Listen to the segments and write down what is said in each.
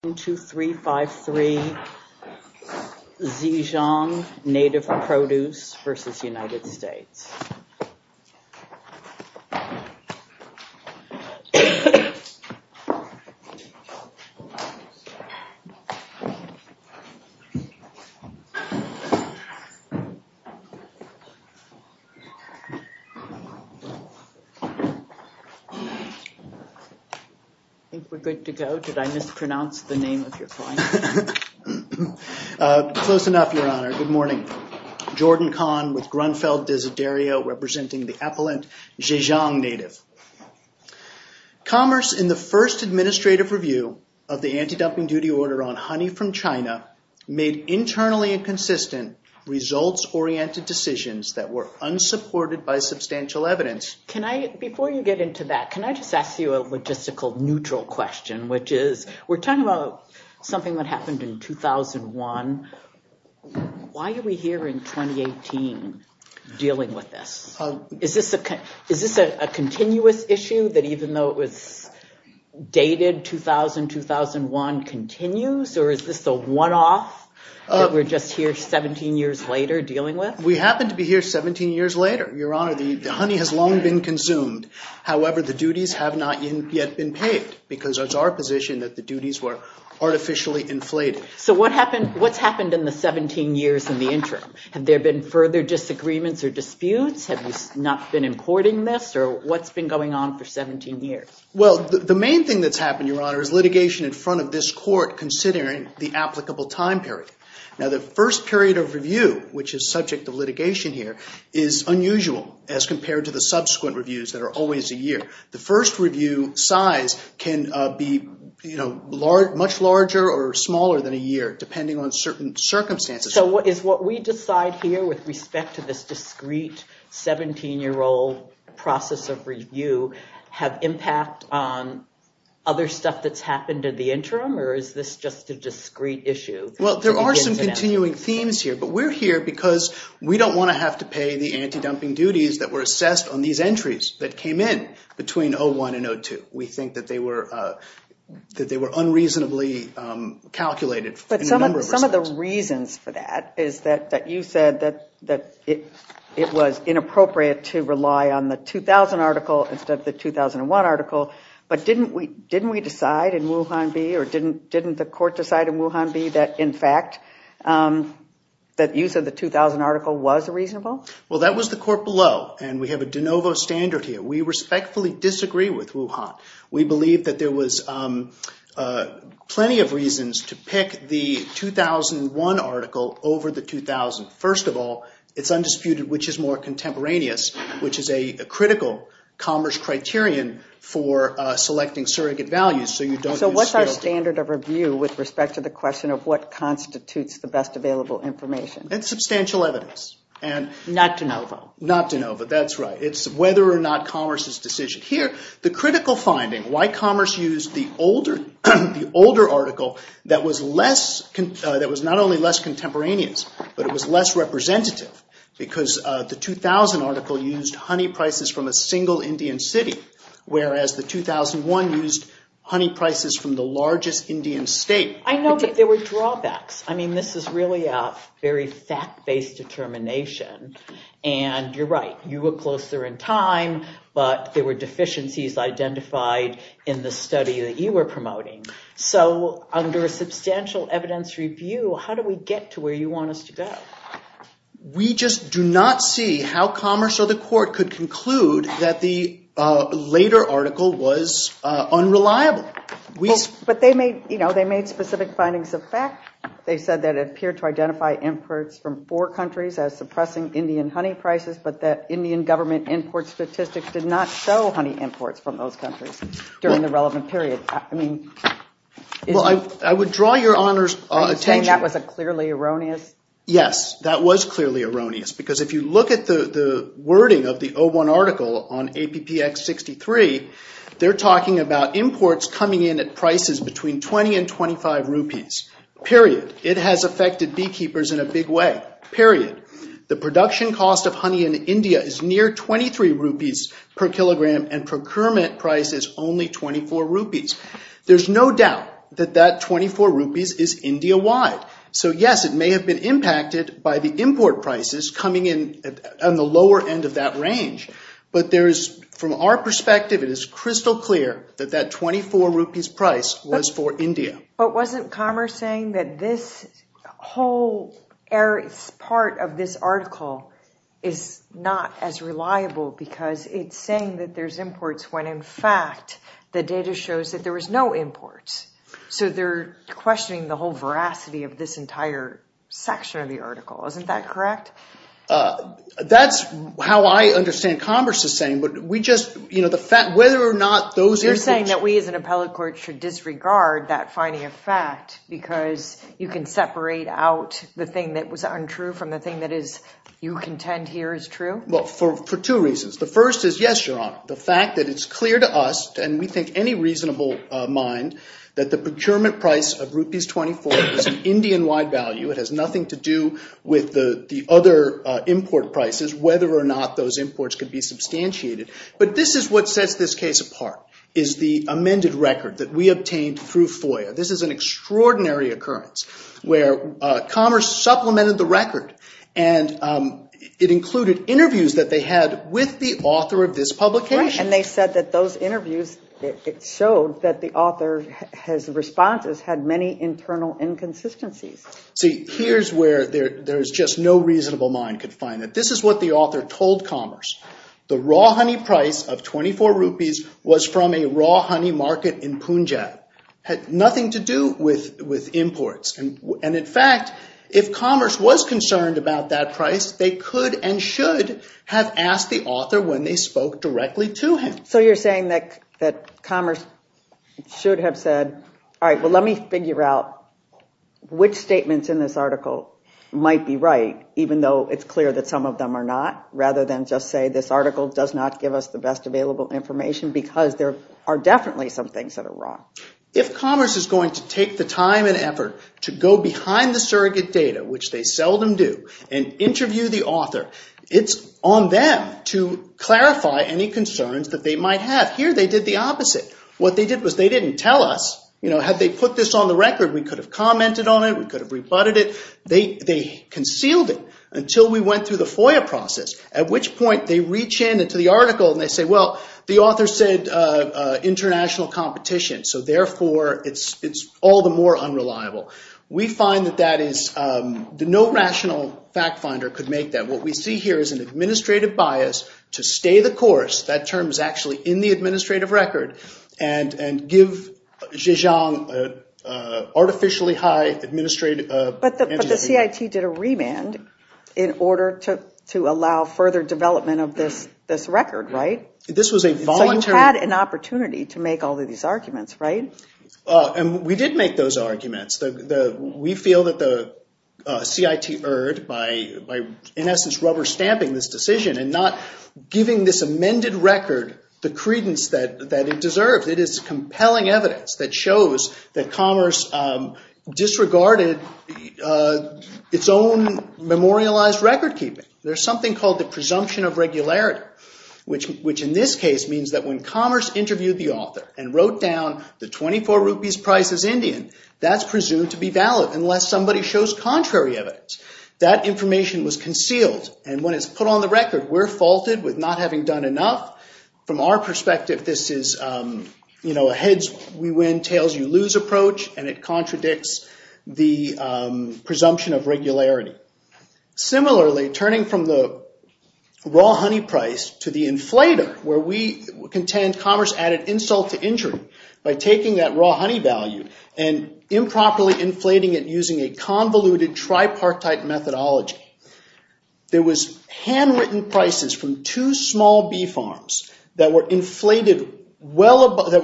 1, 2, 3, 5, 3, Zhejiang Native Produce v. United States. I think we're good to go. Did I mispronounce the name of your client? Close enough, Your Honor. Good morning. Jordan Kahn with Grunfeld Desiderio representing the appellant Zhejiang Native. Commerce in the first administrative review of the anti-dumping duty order on honey from China made internally inconsistent results-oriented decisions that were unsupported by substantial evidence. Before you get into that, can I just ask you a logistical neutral question, which is we're talking about something that happened in 2001. Why are we here in 2018 dealing with this? Is this a continuous issue that even though it was dated 2000-2001 continues, or is this the one-off that we're just here 17 years later dealing with? We happen to be here 17 years later, Your Honor. The honey has long been consumed. However, the duties have not yet been paid because it's our position that the duties were artificially inflated. So what's happened in the 17 years in the interim? Have there been further disagreements or disputes? Have you not been in court in this, or what's been going on for 17 years? Well, the main thing that's happened, Your Honor, is litigation in front of this court considering the applicable time period. Now, the first period of review, which is subject of litigation here, is unusual as compared to the subsequent reviews that are always a year. The first review size can be much larger or smaller than a year depending on certain circumstances. So is what we decide here with respect to this discrete 17-year-old process of review have impact on other stuff that's happened in the interim, or is this just a discrete issue? Well, there are some continuing themes here, but we're here because we don't want to have to pay the anti-dumping duties that were assessed on these entries that came in between 01 and 02. We think that they were unreasonably calculated in a number of respects. But some of the reasons for that is that you said that it was inappropriate to rely on the 2000 article instead of the 2001 article. But didn't we decide in Wuhan-B, or didn't the court decide in Wuhan-B that, in fact, that use of the 2000 article was reasonable? Well, that was the court below, and we have a de novo standard here. We respectfully disagree with Wuhan. We believe that there was plenty of reasons to pick the 2001 article over the 2000. First of all, it's undisputed which is more contemporaneous, which is a critical commerce criterion for selecting surrogate values. So what's our standard of review with respect to the question of what constitutes the best available information? It's substantial evidence. Not de novo. Not de novo, that's right. It's whether or not commerce is decision. Here, the critical finding, why commerce used the older article that was not only less contemporaneous, but it was less representative, because the 2000 article used honey prices from a single Indian city, whereas the 2001 used honey prices from the largest Indian state. I know, but there were drawbacks. I mean, this is really a very fact-based determination. And you're right, you were closer in time, but there were deficiencies identified in the study that you were promoting. So under a substantial evidence review, how do we get to where you want us to go? We just do not see how commerce or the court could conclude that the later article was unreliable. But they made specific findings of fact. They said that it appeared to identify imports from four countries as suppressing Indian honey prices, but the Indian government import statistics did not show honey imports from those countries during the relevant period. I would draw your Honor's attention. Are you saying that was clearly erroneous? Yes, that was clearly erroneous, because if you look at the wording of the 01 article on APPX63, they're talking about imports coming in at prices between 20 and 25 rupees, period. It has affected beekeepers in a big way, period. The production cost of honey in India is near 23 rupees per kilogram, and procurement price is only 24 rupees. There's no doubt that that 24 rupees is India-wide. So yes, it may have been impacted by the import prices coming in on the lower end of that range. But from our perspective, it is crystal clear that that 24 rupees price was for India. But wasn't commerce saying that this whole part of this article is not as reliable, because it's saying that there's imports when, in fact, the data shows that there was no imports? So they're questioning the whole veracity of this entire section of the article. Isn't that correct? That's how I understand commerce is saying. You're saying that we as an appellate court should disregard that finding of fact because you can separate out the thing that was untrue from the thing that you contend here is true? Well, for two reasons. The first is, yes, Your Honor, the fact that it's clear to us, and we think any reasonable mind, that the procurement price of rupees 24 is an Indian-wide value. It has nothing to do with the other import prices, whether or not those imports could be substantiated. But this is what sets this case apart, is the amended record that we obtained through FOIA. This is an extraordinary occurrence where commerce supplemented the record, and it included interviews that they had with the author of this publication. And they said that those interviews showed that the author's responses had many internal inconsistencies. See, here's where there's just no reasonable mind could find it. This is what the author told commerce. The raw honey price of 24 rupees was from a raw honey market in Punjab. It had nothing to do with imports. And in fact, if commerce was concerned about that price, they could and should have asked the author when they spoke directly to him. So you're saying that commerce should have said, all right, well, let me figure out which statements in this article might be right, even though it's clear that some of them are not, rather than just say this article does not give us the best available information, because there are definitely some things that are wrong. If commerce is going to take the time and effort to go behind the surrogate data, which they seldom do, and interview the author, it's on them to clarify any concerns that they might have. Here they did the opposite. What they did was they didn't tell us. Had they put this on the record, we could have commented on it. We could have rebutted it. They concealed it until we went through the FOIA process, at which point they reach in to the article and they say, well, the author said international competition, so therefore it's all the more unreliable. We find that no rational fact finder could make that. What we see here is an administrative bias to stay the course. That term is actually in the administrative record, and give Zhejiang an artificially high administrative anti- But the CIT did a remand in order to allow further development of this record, right? This was a voluntary So you had an opportunity to make all of these arguments, right? We did make those arguments. We feel that the CIT erred by, in essence, rubber stamping this decision and not giving this amended record the credence that it deserved. It is compelling evidence that shows that commerce disregarded its own memorialized record keeping. There's something called the presumption of regularity, which in this case means that when commerce interviewed the author and wrote down the 24 rupees price as Indian, that's presumed to be valid unless somebody shows contrary evidence. That information was concealed, and when it's put on the record, we're faulted with not having done enough. From our perspective, this is a heads we win, tails you lose approach, and it contradicts the presumption of regularity. Similarly, turning from the raw honey price to the inflator, where we contend commerce added insult to injury by taking that raw honey value and improperly inflating it using a convoluted tripartite methodology. There was handwritten prices from two small bee farms that were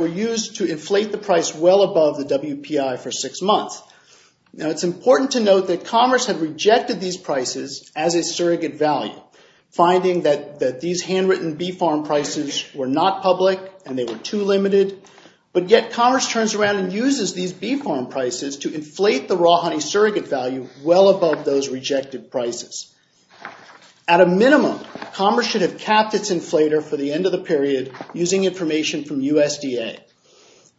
used to inflate the price well above the WPI for six months. Now, it's important to note that commerce had rejected these prices as a surrogate value, finding that these handwritten bee farm prices were not public and they were too limited, but yet commerce turns around and uses these bee farm prices to inflate the raw honey surrogate value well above those rejected prices. At a minimum, commerce should have capped its inflator for the end of the period using information from USDA.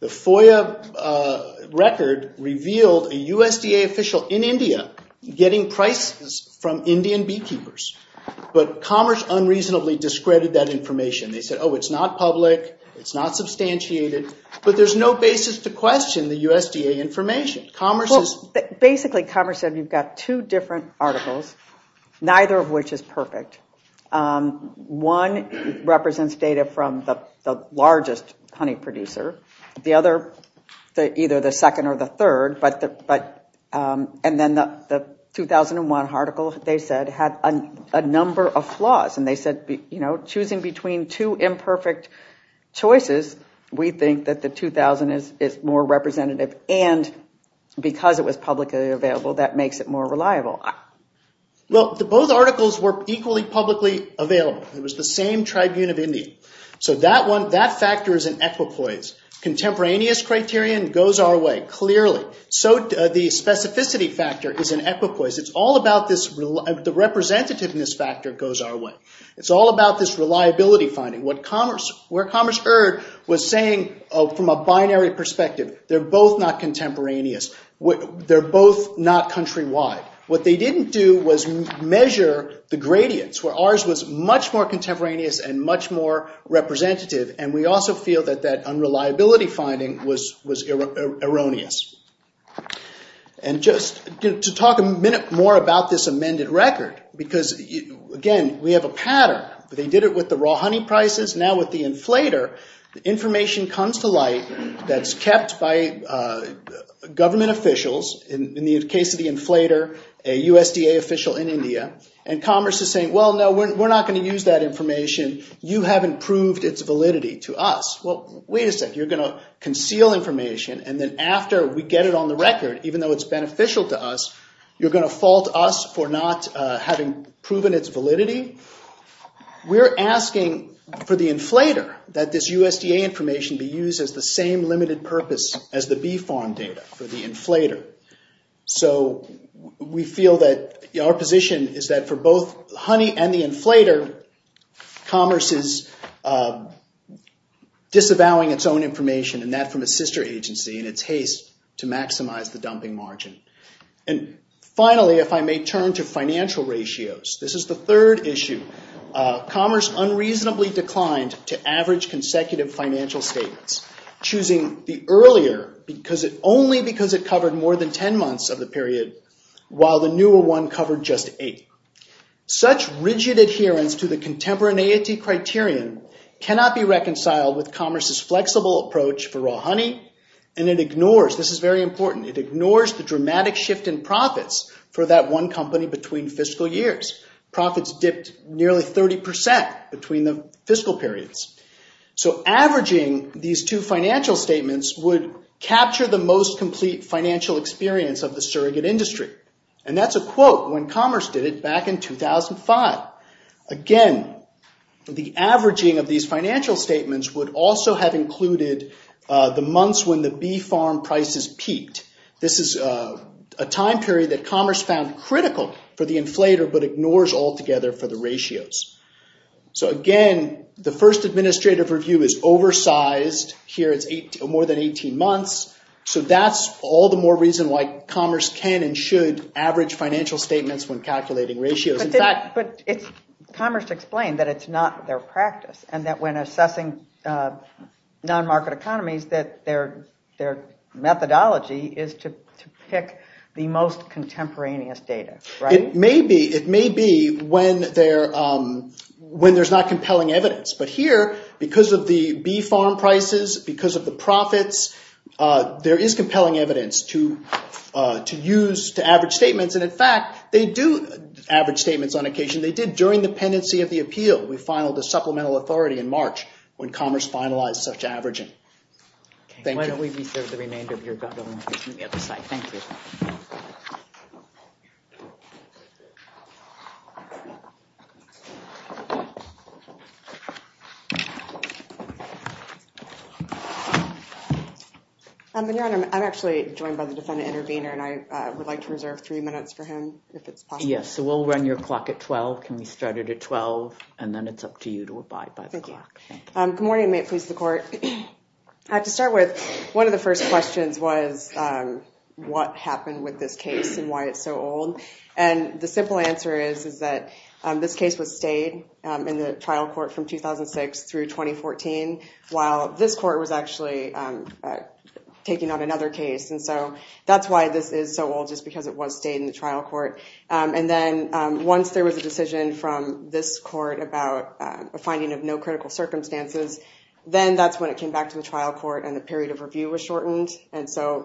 The FOIA record revealed a USDA official in India getting prices from Indian beekeepers, but commerce unreasonably discredited that information. They said, oh, it's not public, it's not substantiated, but there's no basis to question the USDA information. Basically, commerce said you've got two different articles, neither of which is perfect. One represents data from the largest honey producer, the other either the second or the third, and then the 2001 article, they said, had a number of flaws, and they said choosing between two imperfect choices, we think that the 2000 is more representative, and because it was publicly available, that makes it more reliable. Well, both articles were equally publicly available. It was the same tribune of India. So that factor is an equipoise. Contemporaneous criterion goes our way, clearly. So the specificity factor is an equipoise. The representativeness factor goes our way. It's all about this reliability finding. Where commerce erred was saying from a binary perspective, they're both not contemporaneous, they're both not countrywide. What they didn't do was measure the gradients, where ours was much more contemporaneous and much more representative, and we also feel that that unreliability finding was erroneous. And just to talk a minute more about this amended record, because, again, we have a pattern. They did it with the raw honey prices. Now with the inflator, the information comes to light that's kept by government officials, in the case of the inflator, a USDA official in India, and commerce is saying, well, no, we're not going to use that information. You haven't proved its validity to us. Well, wait a second, you're going to conceal information, and then after we get it on the record, even though it's beneficial to us, you're going to fault us for not having proven its validity? We're asking for the inflator, that this USDA information be used as the same limited purpose as the bee farm data for the inflator. So we feel that our position is that for both honey and the inflator, commerce is disavowing its own information and that from a sister agency in its haste to maximize the dumping margin. And finally, if I may turn to financial ratios, this is the third issue. Commerce unreasonably declined to average consecutive financial statements, choosing the earlier only because it covered more than ten months of the period, while the newer one covered just eight. Such rigid adherence to the contemporaneity criterion cannot be reconciled with commerce's flexible approach for raw honey, and it ignores, this is very important, it ignores the dramatic shift in profits for that one company between fiscal years. Profits dipped nearly 30% between the fiscal periods. So averaging these two financial statements would capture the most complete financial experience of the surrogate industry. And that's a quote when commerce did it back in 2005. Again, the averaging of these financial statements would also have included the months when the bee farm prices peaked. This is a time period that commerce found critical for the inflator but ignores altogether for the ratios. So again, the first administrative review is oversized. Here it's more than 18 months. So that's all the more reason why commerce can and should average financial statements when calculating ratios. But commerce explained that it's not their practice and that when assessing non-market economies that their methodology is to pick the most contemporaneous data, right? It may be when there's not compelling evidence. But here, because of the bee farm prices, because of the profits, there is compelling evidence to use to average statements. And in fact, they do average statements on occasion. They did during the pendency of the appeal. We filed a supplemental authority in March when commerce finalized such averaging. Why don't we reserve the remainder of your time on the other side. Thank you. Your Honor, I'm actually joined by the defendant intervener and I would like to reserve three minutes for him if it's possible. Yes, so we'll run your clock at 12. Can we start it at 12? And then it's up to you to abide by the clock. Good morning. May it please the court. To start with, one of the first questions was what happened with this case and why it's so old. And the simple answer is that this case was stayed in the trial court from 2006 through 2014 while this court was actually taking on another case. And so that's why this is so old, just because it was stayed in the trial court. And then once there was a decision from this court about a finding of no critical circumstances, then that's when it came back to the trial court and the period of review was shortened. And so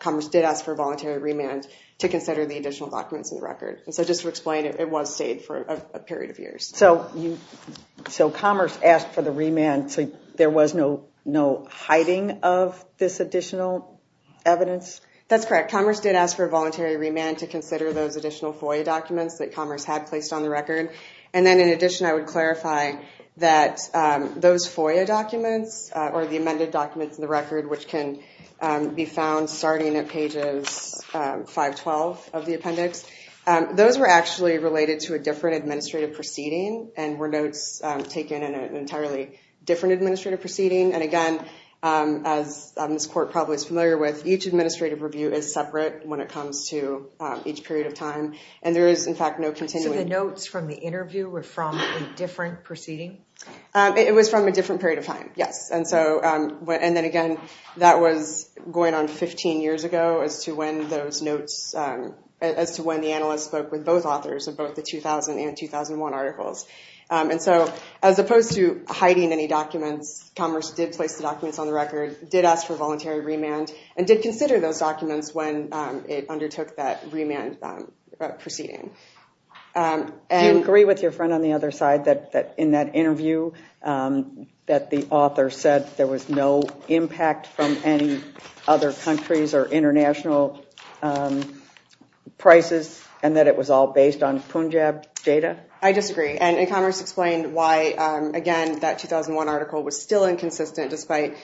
commerce did ask for a voluntary remand to consider the additional documents in the record. And so just to explain, it was stayed for a period of years. So commerce asked for the remand so there was no hiding of this additional evidence? That's correct. Commerce did ask for a voluntary remand to consider those additional FOIA documents that commerce had placed on the record. And then in addition, I would clarify that those FOIA documents or the amended documents in the record, which can be found starting at pages 512 of the appendix, those were actually related to a different administrative proceeding and were notes taken in an entirely different administrative proceeding. And again, as this court probably is familiar with, each administrative review is separate when it comes to each period of time. So the notes from the interview were from a different proceeding? It was from a different period of time, yes. And then again, that was going on 15 years ago as to when those notes, as to when the analyst spoke with both authors of both the 2000 and 2001 articles. And so as opposed to hiding any documents, commerce did place the documents on the record, did ask for voluntary remand, and did consider those documents when it undertook that remand proceeding. Do you agree with your friend on the other side that in that interview that the author said there was no impact from any other countries or international prices and that it was all based on Punjab data? I disagree. And commerce explained why, again, that 2001 article was still inconsistent despite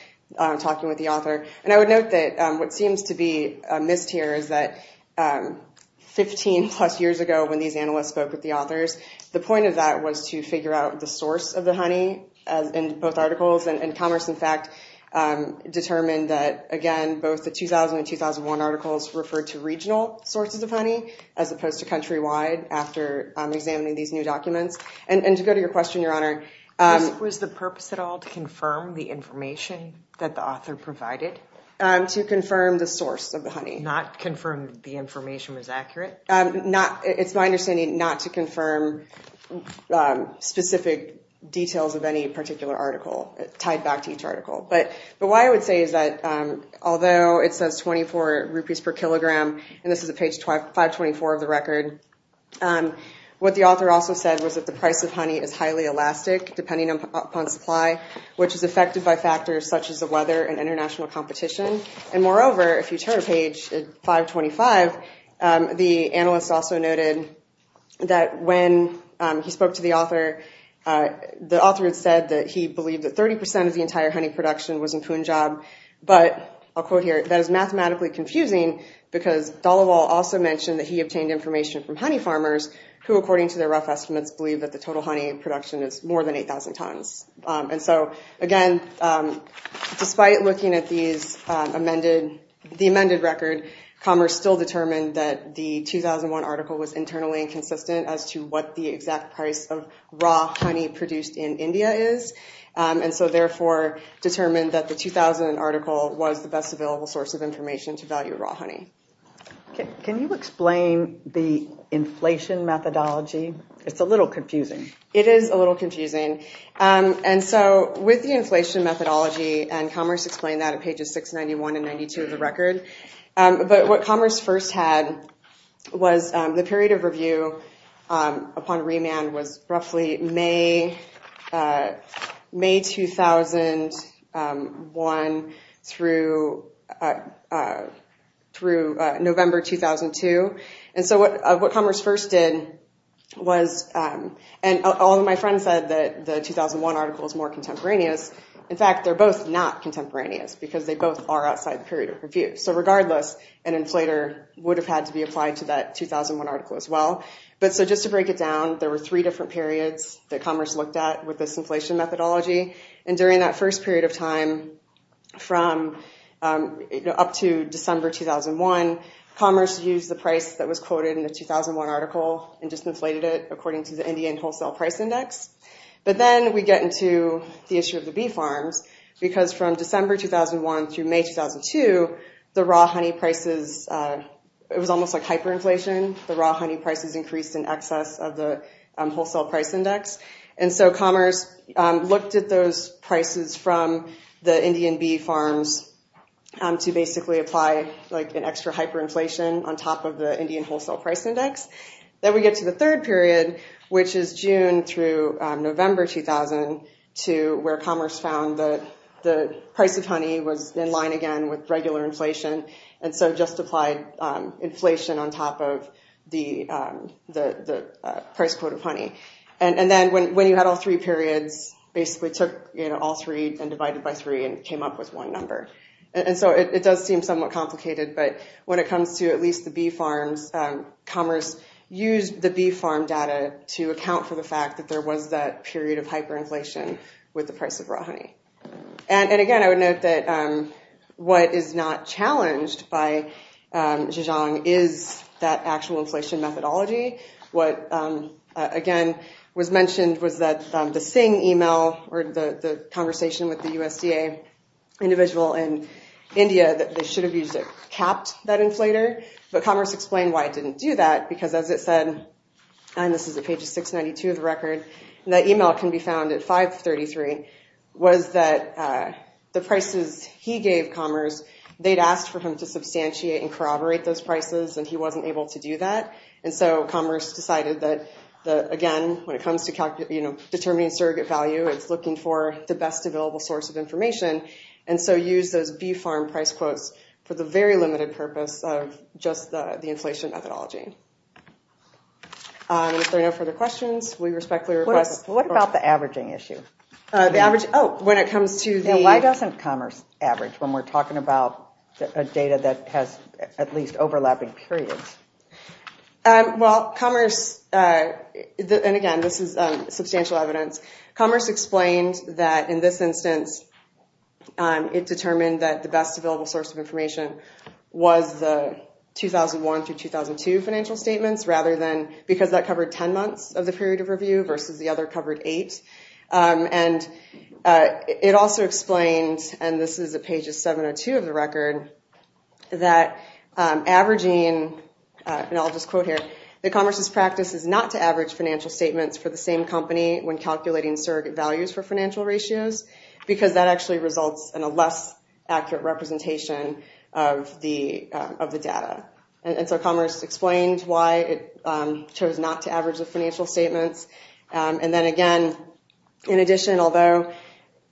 talking with the author. And I would note that what seems to be missed here is that 15-plus years ago when these analysts spoke with the authors, the point of that was to figure out the source of the honey in both articles. And commerce, in fact, determined that, again, both the 2000 and 2001 articles referred to regional sources of honey as opposed to countrywide after examining these new documents. And to go to your question, Your Honor, Was the purpose at all to confirm the information that the author provided? To confirm the source of the honey. Not confirm the information was accurate? It's my understanding not to confirm specific details of any particular article tied back to each article. But why I would say is that although it says 24 rupees per kilogram, and this is at page 524 of the record, what the author also said was that the price of honey is highly elastic depending upon supply, which is affected by factors such as the weather and international competition. And moreover, if you turn to page 525, the analyst also noted that when he spoke to the author, the author had said that he believed that 30% of the entire honey production was in Punjab. But, I'll quote here, that is mathematically confusing because Dhalawal also mentioned that he obtained information from honey farmers who, according to their rough estimates, believe that the total honey production is more than 8,000 tons. And so, again, despite looking at the amended record, Commerce still determined that the 2001 article was internally inconsistent as to what the exact price of raw honey produced in India is. And so, therefore, determined that the 2000 article was the best available source of information to value raw honey. Can you explain the inflation methodology? It's a little confusing. It is a little confusing. And so, with the inflation methodology, and Commerce explained that at pages 691 and 92 of the record, but what Commerce first had was the period of review upon remand was roughly May 2001 through November 2002. And so, what Commerce first did was, and all of my friends said that the 2001 article is more contemporaneous. In fact, they're both not contemporaneous because they both are outside the period of review. So, regardless, an inflator would have had to be applied to that 2001 article as well. But so, just to break it down, there were three different periods that Commerce looked at with this inflation methodology. And during that first period of time, up to December 2001, Commerce used the price that was quoted in the 2001 article and just inflated it according to the Indian Wholesale Price Index. But then we get into the issue of the bee farms, because from December 2001 through May 2002, the raw honey prices, it was almost like hyperinflation, the raw honey prices increased in excess of the Wholesale Price Index. And so Commerce looked at those prices from the Indian bee farms to basically apply an extra hyperinflation on top of the Indian Wholesale Price Index. Then we get to the third period, which is June through November 2002, where Commerce found that the price of honey was in line again with regular inflation, and so just applied inflation on top of the price quote of honey. And then when you had all three periods, basically took all three and divided by three and came up with one number. And so it does seem somewhat complicated, but when it comes to at least the bee farms, Commerce used the bee farm data to account for the fact that there was that period of hyperinflation. With the price of raw honey. And again, I would note that what is not challenged by Zhejiang is that actual inflation methodology. What, again, was mentioned was that the Singh email, or the conversation with the USDA individual in India, that they should have used it capped that inflator. But Commerce explained why it didn't do that, because as it said, and this is at page 692 of the record, and that email can be found at 533, was that the prices he gave Commerce, they'd asked for him to substantiate and corroborate those prices, and he wasn't able to do that. And so Commerce decided that, again, when it comes to determining surrogate value, it's looking for the best available source of information. And so used those bee farm price quotes for the very limited purpose of just the inflation methodology. If there are no further questions, we respectfully request. What about the averaging issue? Oh, when it comes to the. Why doesn't Commerce average when we're talking about data that has at least overlapping periods? Well, Commerce, and again, this is substantial evidence. Commerce explained that in this instance, it determined that the best available source of information was the 2001 through 2002 financial statements rather than because that covered 10 months of the period of review versus the other covered eight. And it also explains, and this is a page of 702 of the record, that averaging, and I'll just quote here, that Commerce's practice is not to average financial statements for the same company when calculating surrogate values for financial ratios, because that actually results in a less accurate representation of the data. And so Commerce explains why it chose not to average the financial statements. And then again, in addition, although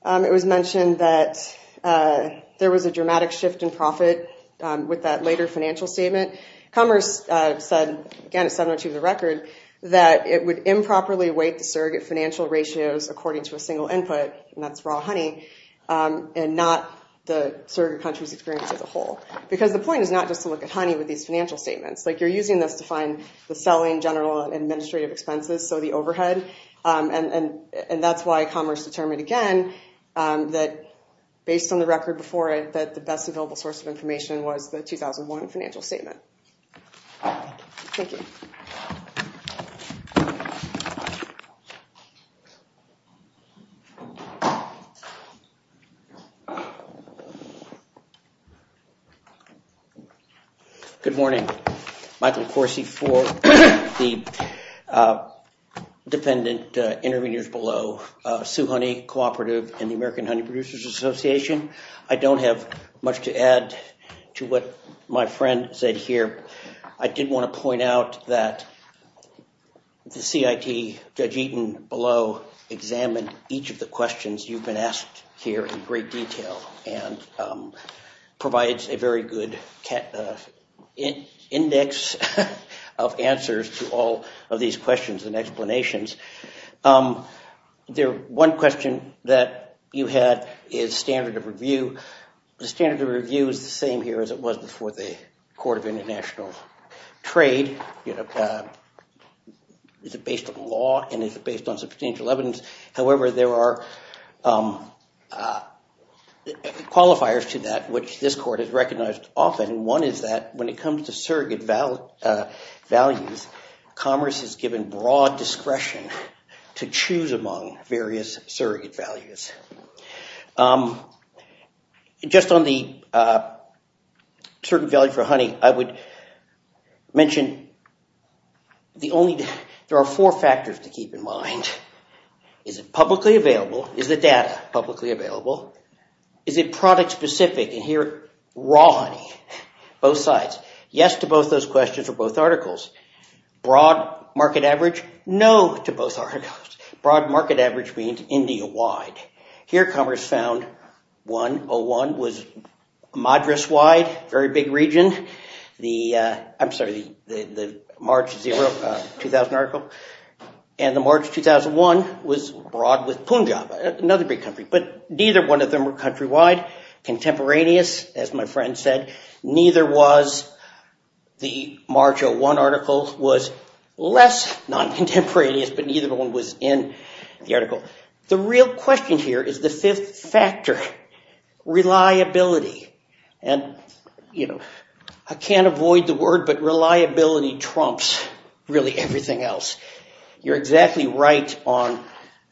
it was mentioned that there was a dramatic shift in profit with that later financial statement, Commerce said, again, it's 702 of the record, that it would improperly weight the surrogate financial ratios according to a single input. And that's raw honey, and not the surrogate country's experience as a whole. Because the point is not just to look at honey with these financial statements. You're using this to find the selling, general, and administrative expenses, so the overhead. And that's why Commerce determined, again, that based on the record before it, that the best available source of information was the 2001 financial statement. Thank you. Good morning. Michael Corsi for the dependent intervenors below. Sioux Honey Cooperative and the American Honey Producers Association. I don't have much to add to what my friend said here. I did want to point out that the CIT, Judge Eaton below, examined each of the questions you've been asked here in great detail and provides a very good index of answers to all of these questions and explanations. One question that you had is standard of review. The standard of review is the same here as it was before the Court of International Trade. Is it based on law, and is it based on substantial evidence? However, there are qualifiers to that which this court has recognized often. One is that when it comes to surrogate values, Commerce has given broad discretion to choose among various surrogate values. Just on the surrogate value for honey, I would mention there are four factors to keep in mind. Is it publicly available? Is the data publicly available? Is it product-specific? And here, raw honey, both sides. Yes to both those questions or both articles. Broad market average? No to both articles. Broad market average means India-wide. Here, Commerce found 101 was Madras-wide, very big region. I'm sorry, the March 2000 article. And the March 2001 was broad with Punjab, another big country. But neither one of them were country-wide. Contemporaneous, as my friend said. Neither was the March 2001 article. It was less non-contemporaneous, but neither one was in the article. The real question here is the fifth factor, reliability. And I can't avoid the word, but reliability trumps really everything else. You're exactly right on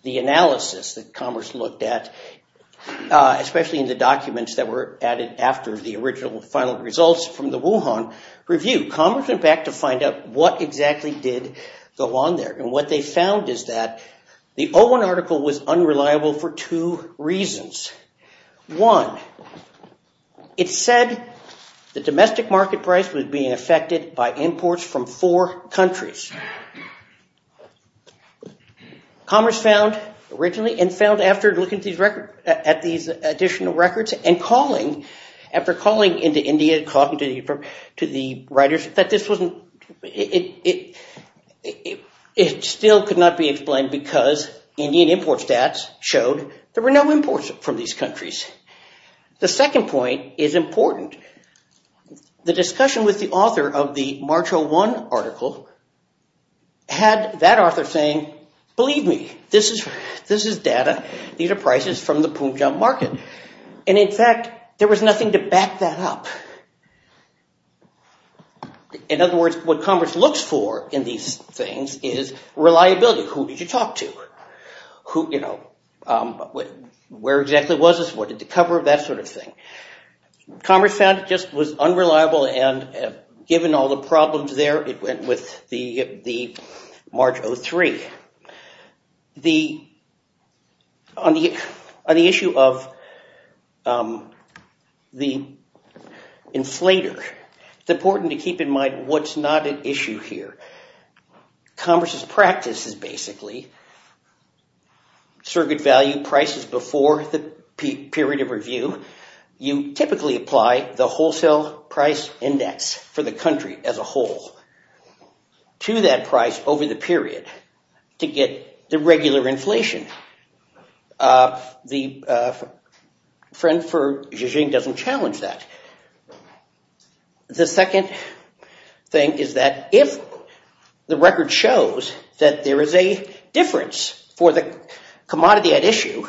the analysis that Commerce looked at, especially in the documents that were added after the original final results from the Wuhan review. Commerce went back to find out what exactly did go on there. And what they found is that the 01 article was unreliable for two reasons. One, it said the domestic market price was being affected by imports from four countries. Commerce found, originally, and found after looking at these additional records and calling, after calling into India, calling to the writers, that this still could not be explained because Indian import stats showed there were no imports from these countries. The second point is important. The discussion with the author of the March 01 article had that author saying, believe me, this is data. These are prices from the Punjab market. And in fact, there was nothing to back that up. In other words, what Commerce looks for in these things is reliability. Who did you talk to? Where exactly was this? What did they cover? That sort of thing. Commerce found it just was unreliable, and given all the problems there, it went with the March 03. On the issue of the inflator, it's important to keep in mind what's not at issue here. Commerce's practice is basically surrogate value prices before the period of review. You typically apply the wholesale price index for the country as a whole to that price over the period to get the regular inflation. The friend for Xi Jinping doesn't challenge that. The second thing is that if the record shows that there is a difference for the commodity at issue,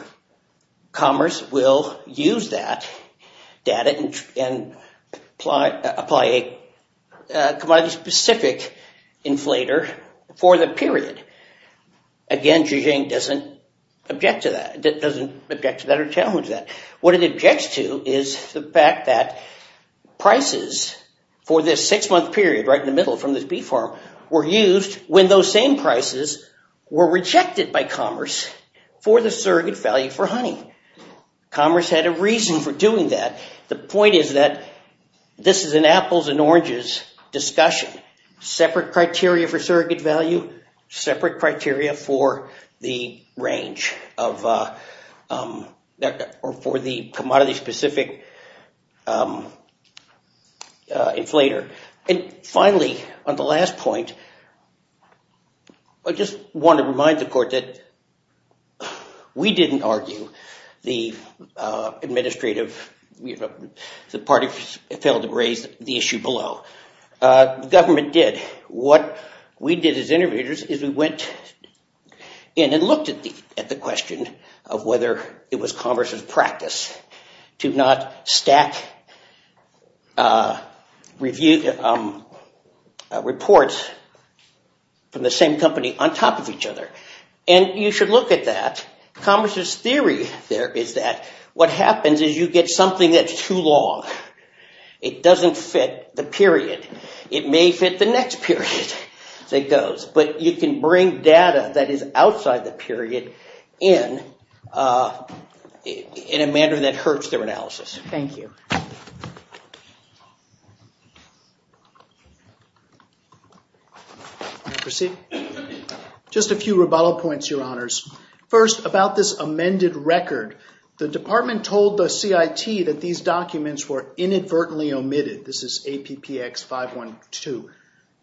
Commerce will use that data and apply a commodity-specific inflator for the period. Again, Xi Jinping doesn't object to that or challenge that. What it objects to is the fact that prices for this six-month period right in the middle from this beef farm were used when those same prices were rejected by Commerce for the surrogate value for honey. Commerce had a reason for doing that. The point is that this is an apples and oranges discussion. Separate criteria for surrogate value, separate criteria for the range or for the commodity-specific inflator. Finally, on the last point, I just want to remind the Court that we didn't argue the administrative, the party failed to raise the issue below. The government did. What we did as interviewers is we went in and looked at the question of whether it was Commerce's practice to not stack reports from the same company on top of each other. And you should look at that. Commerce's theory there is that what happens is you get something that's too long. It doesn't fit the period. It may fit the next period that goes. But you can bring data that is outside the period in a manner that hurts their analysis. Thank you. Just a few rebuttal points, Your Honors. First, about this amended record. The Department told the CIT that these documents were inadvertently omitted. This is APPX 512.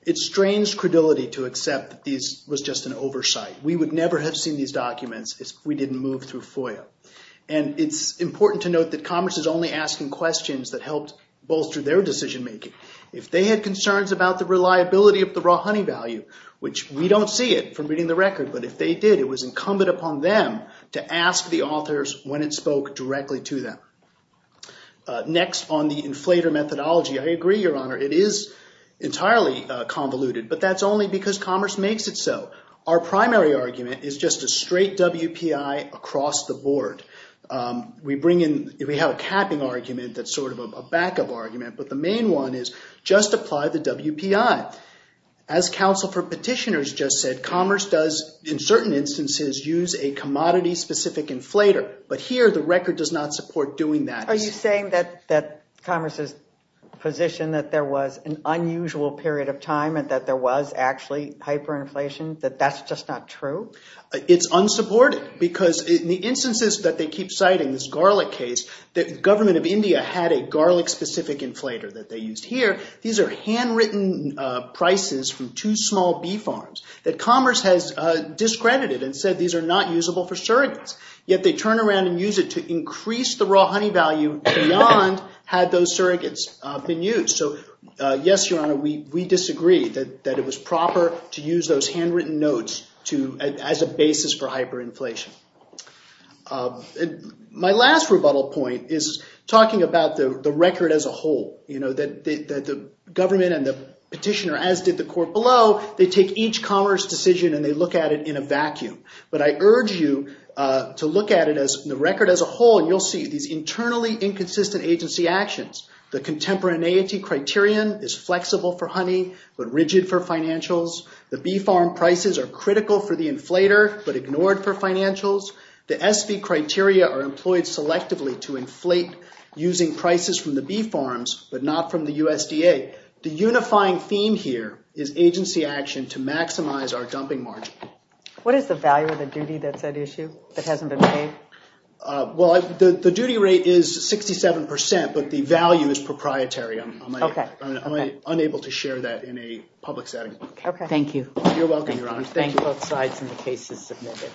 It's strange credulity to accept that this was just an oversight. We would never have seen these documents if we didn't move through FOIA. And it's important to note that Commerce is only asking questions that helped bolster their decision-making. If they had concerns about the reliability of the raw honey value, which we don't see it from reading the record, but if they did, it was incumbent upon them to ask the authors when it spoke directly to them. Next, on the inflator methodology. I agree, Your Honor, it is entirely convoluted, but that's only because Commerce makes it so. Our primary argument is just a straight WPI across the board. We have a capping argument that's sort of a backup argument, but the main one is just apply the WPI. As counsel for petitioners just said, Commerce does, in certain instances, use a commodity-specific inflator. But here, the record does not support doing that. Are you saying that Commerce's position that there was an unusual period of time and that there was actually hyperinflation, that that's just not true? It's unsupported because in the instances that they keep citing, this garlic case, the government of India had a garlic-specific inflator that they used here. These are handwritten prices from two small beef farms that Commerce has discredited and said these are not usable for surrogates. Yet they turn around and use it to increase the raw honey value beyond had those surrogates been used. So, yes, Your Honor, we disagree that it was proper to use those handwritten notes as a basis for hyperinflation. My last rebuttal point is talking about the record as a whole, that the government and the petitioner, as did the court below, But I urge you to look at it as the record as a whole, and you'll see these internally inconsistent agency actions. The contemporaneity criterion is flexible for honey but rigid for financials. The beef farm prices are critical for the inflator but ignored for financials. The SV criteria are employed selectively to inflate using prices from the beef farms but not from the USDA. The unifying theme here is agency action to maximize our dumping margin. What is the value of the duty that's at issue that hasn't been paid? Well, the duty rate is 67%, but the value is proprietary. I'm unable to share that in a public setting. Thank you. You're welcome, Your Honor. Thank you. Both sides and the case is submitted.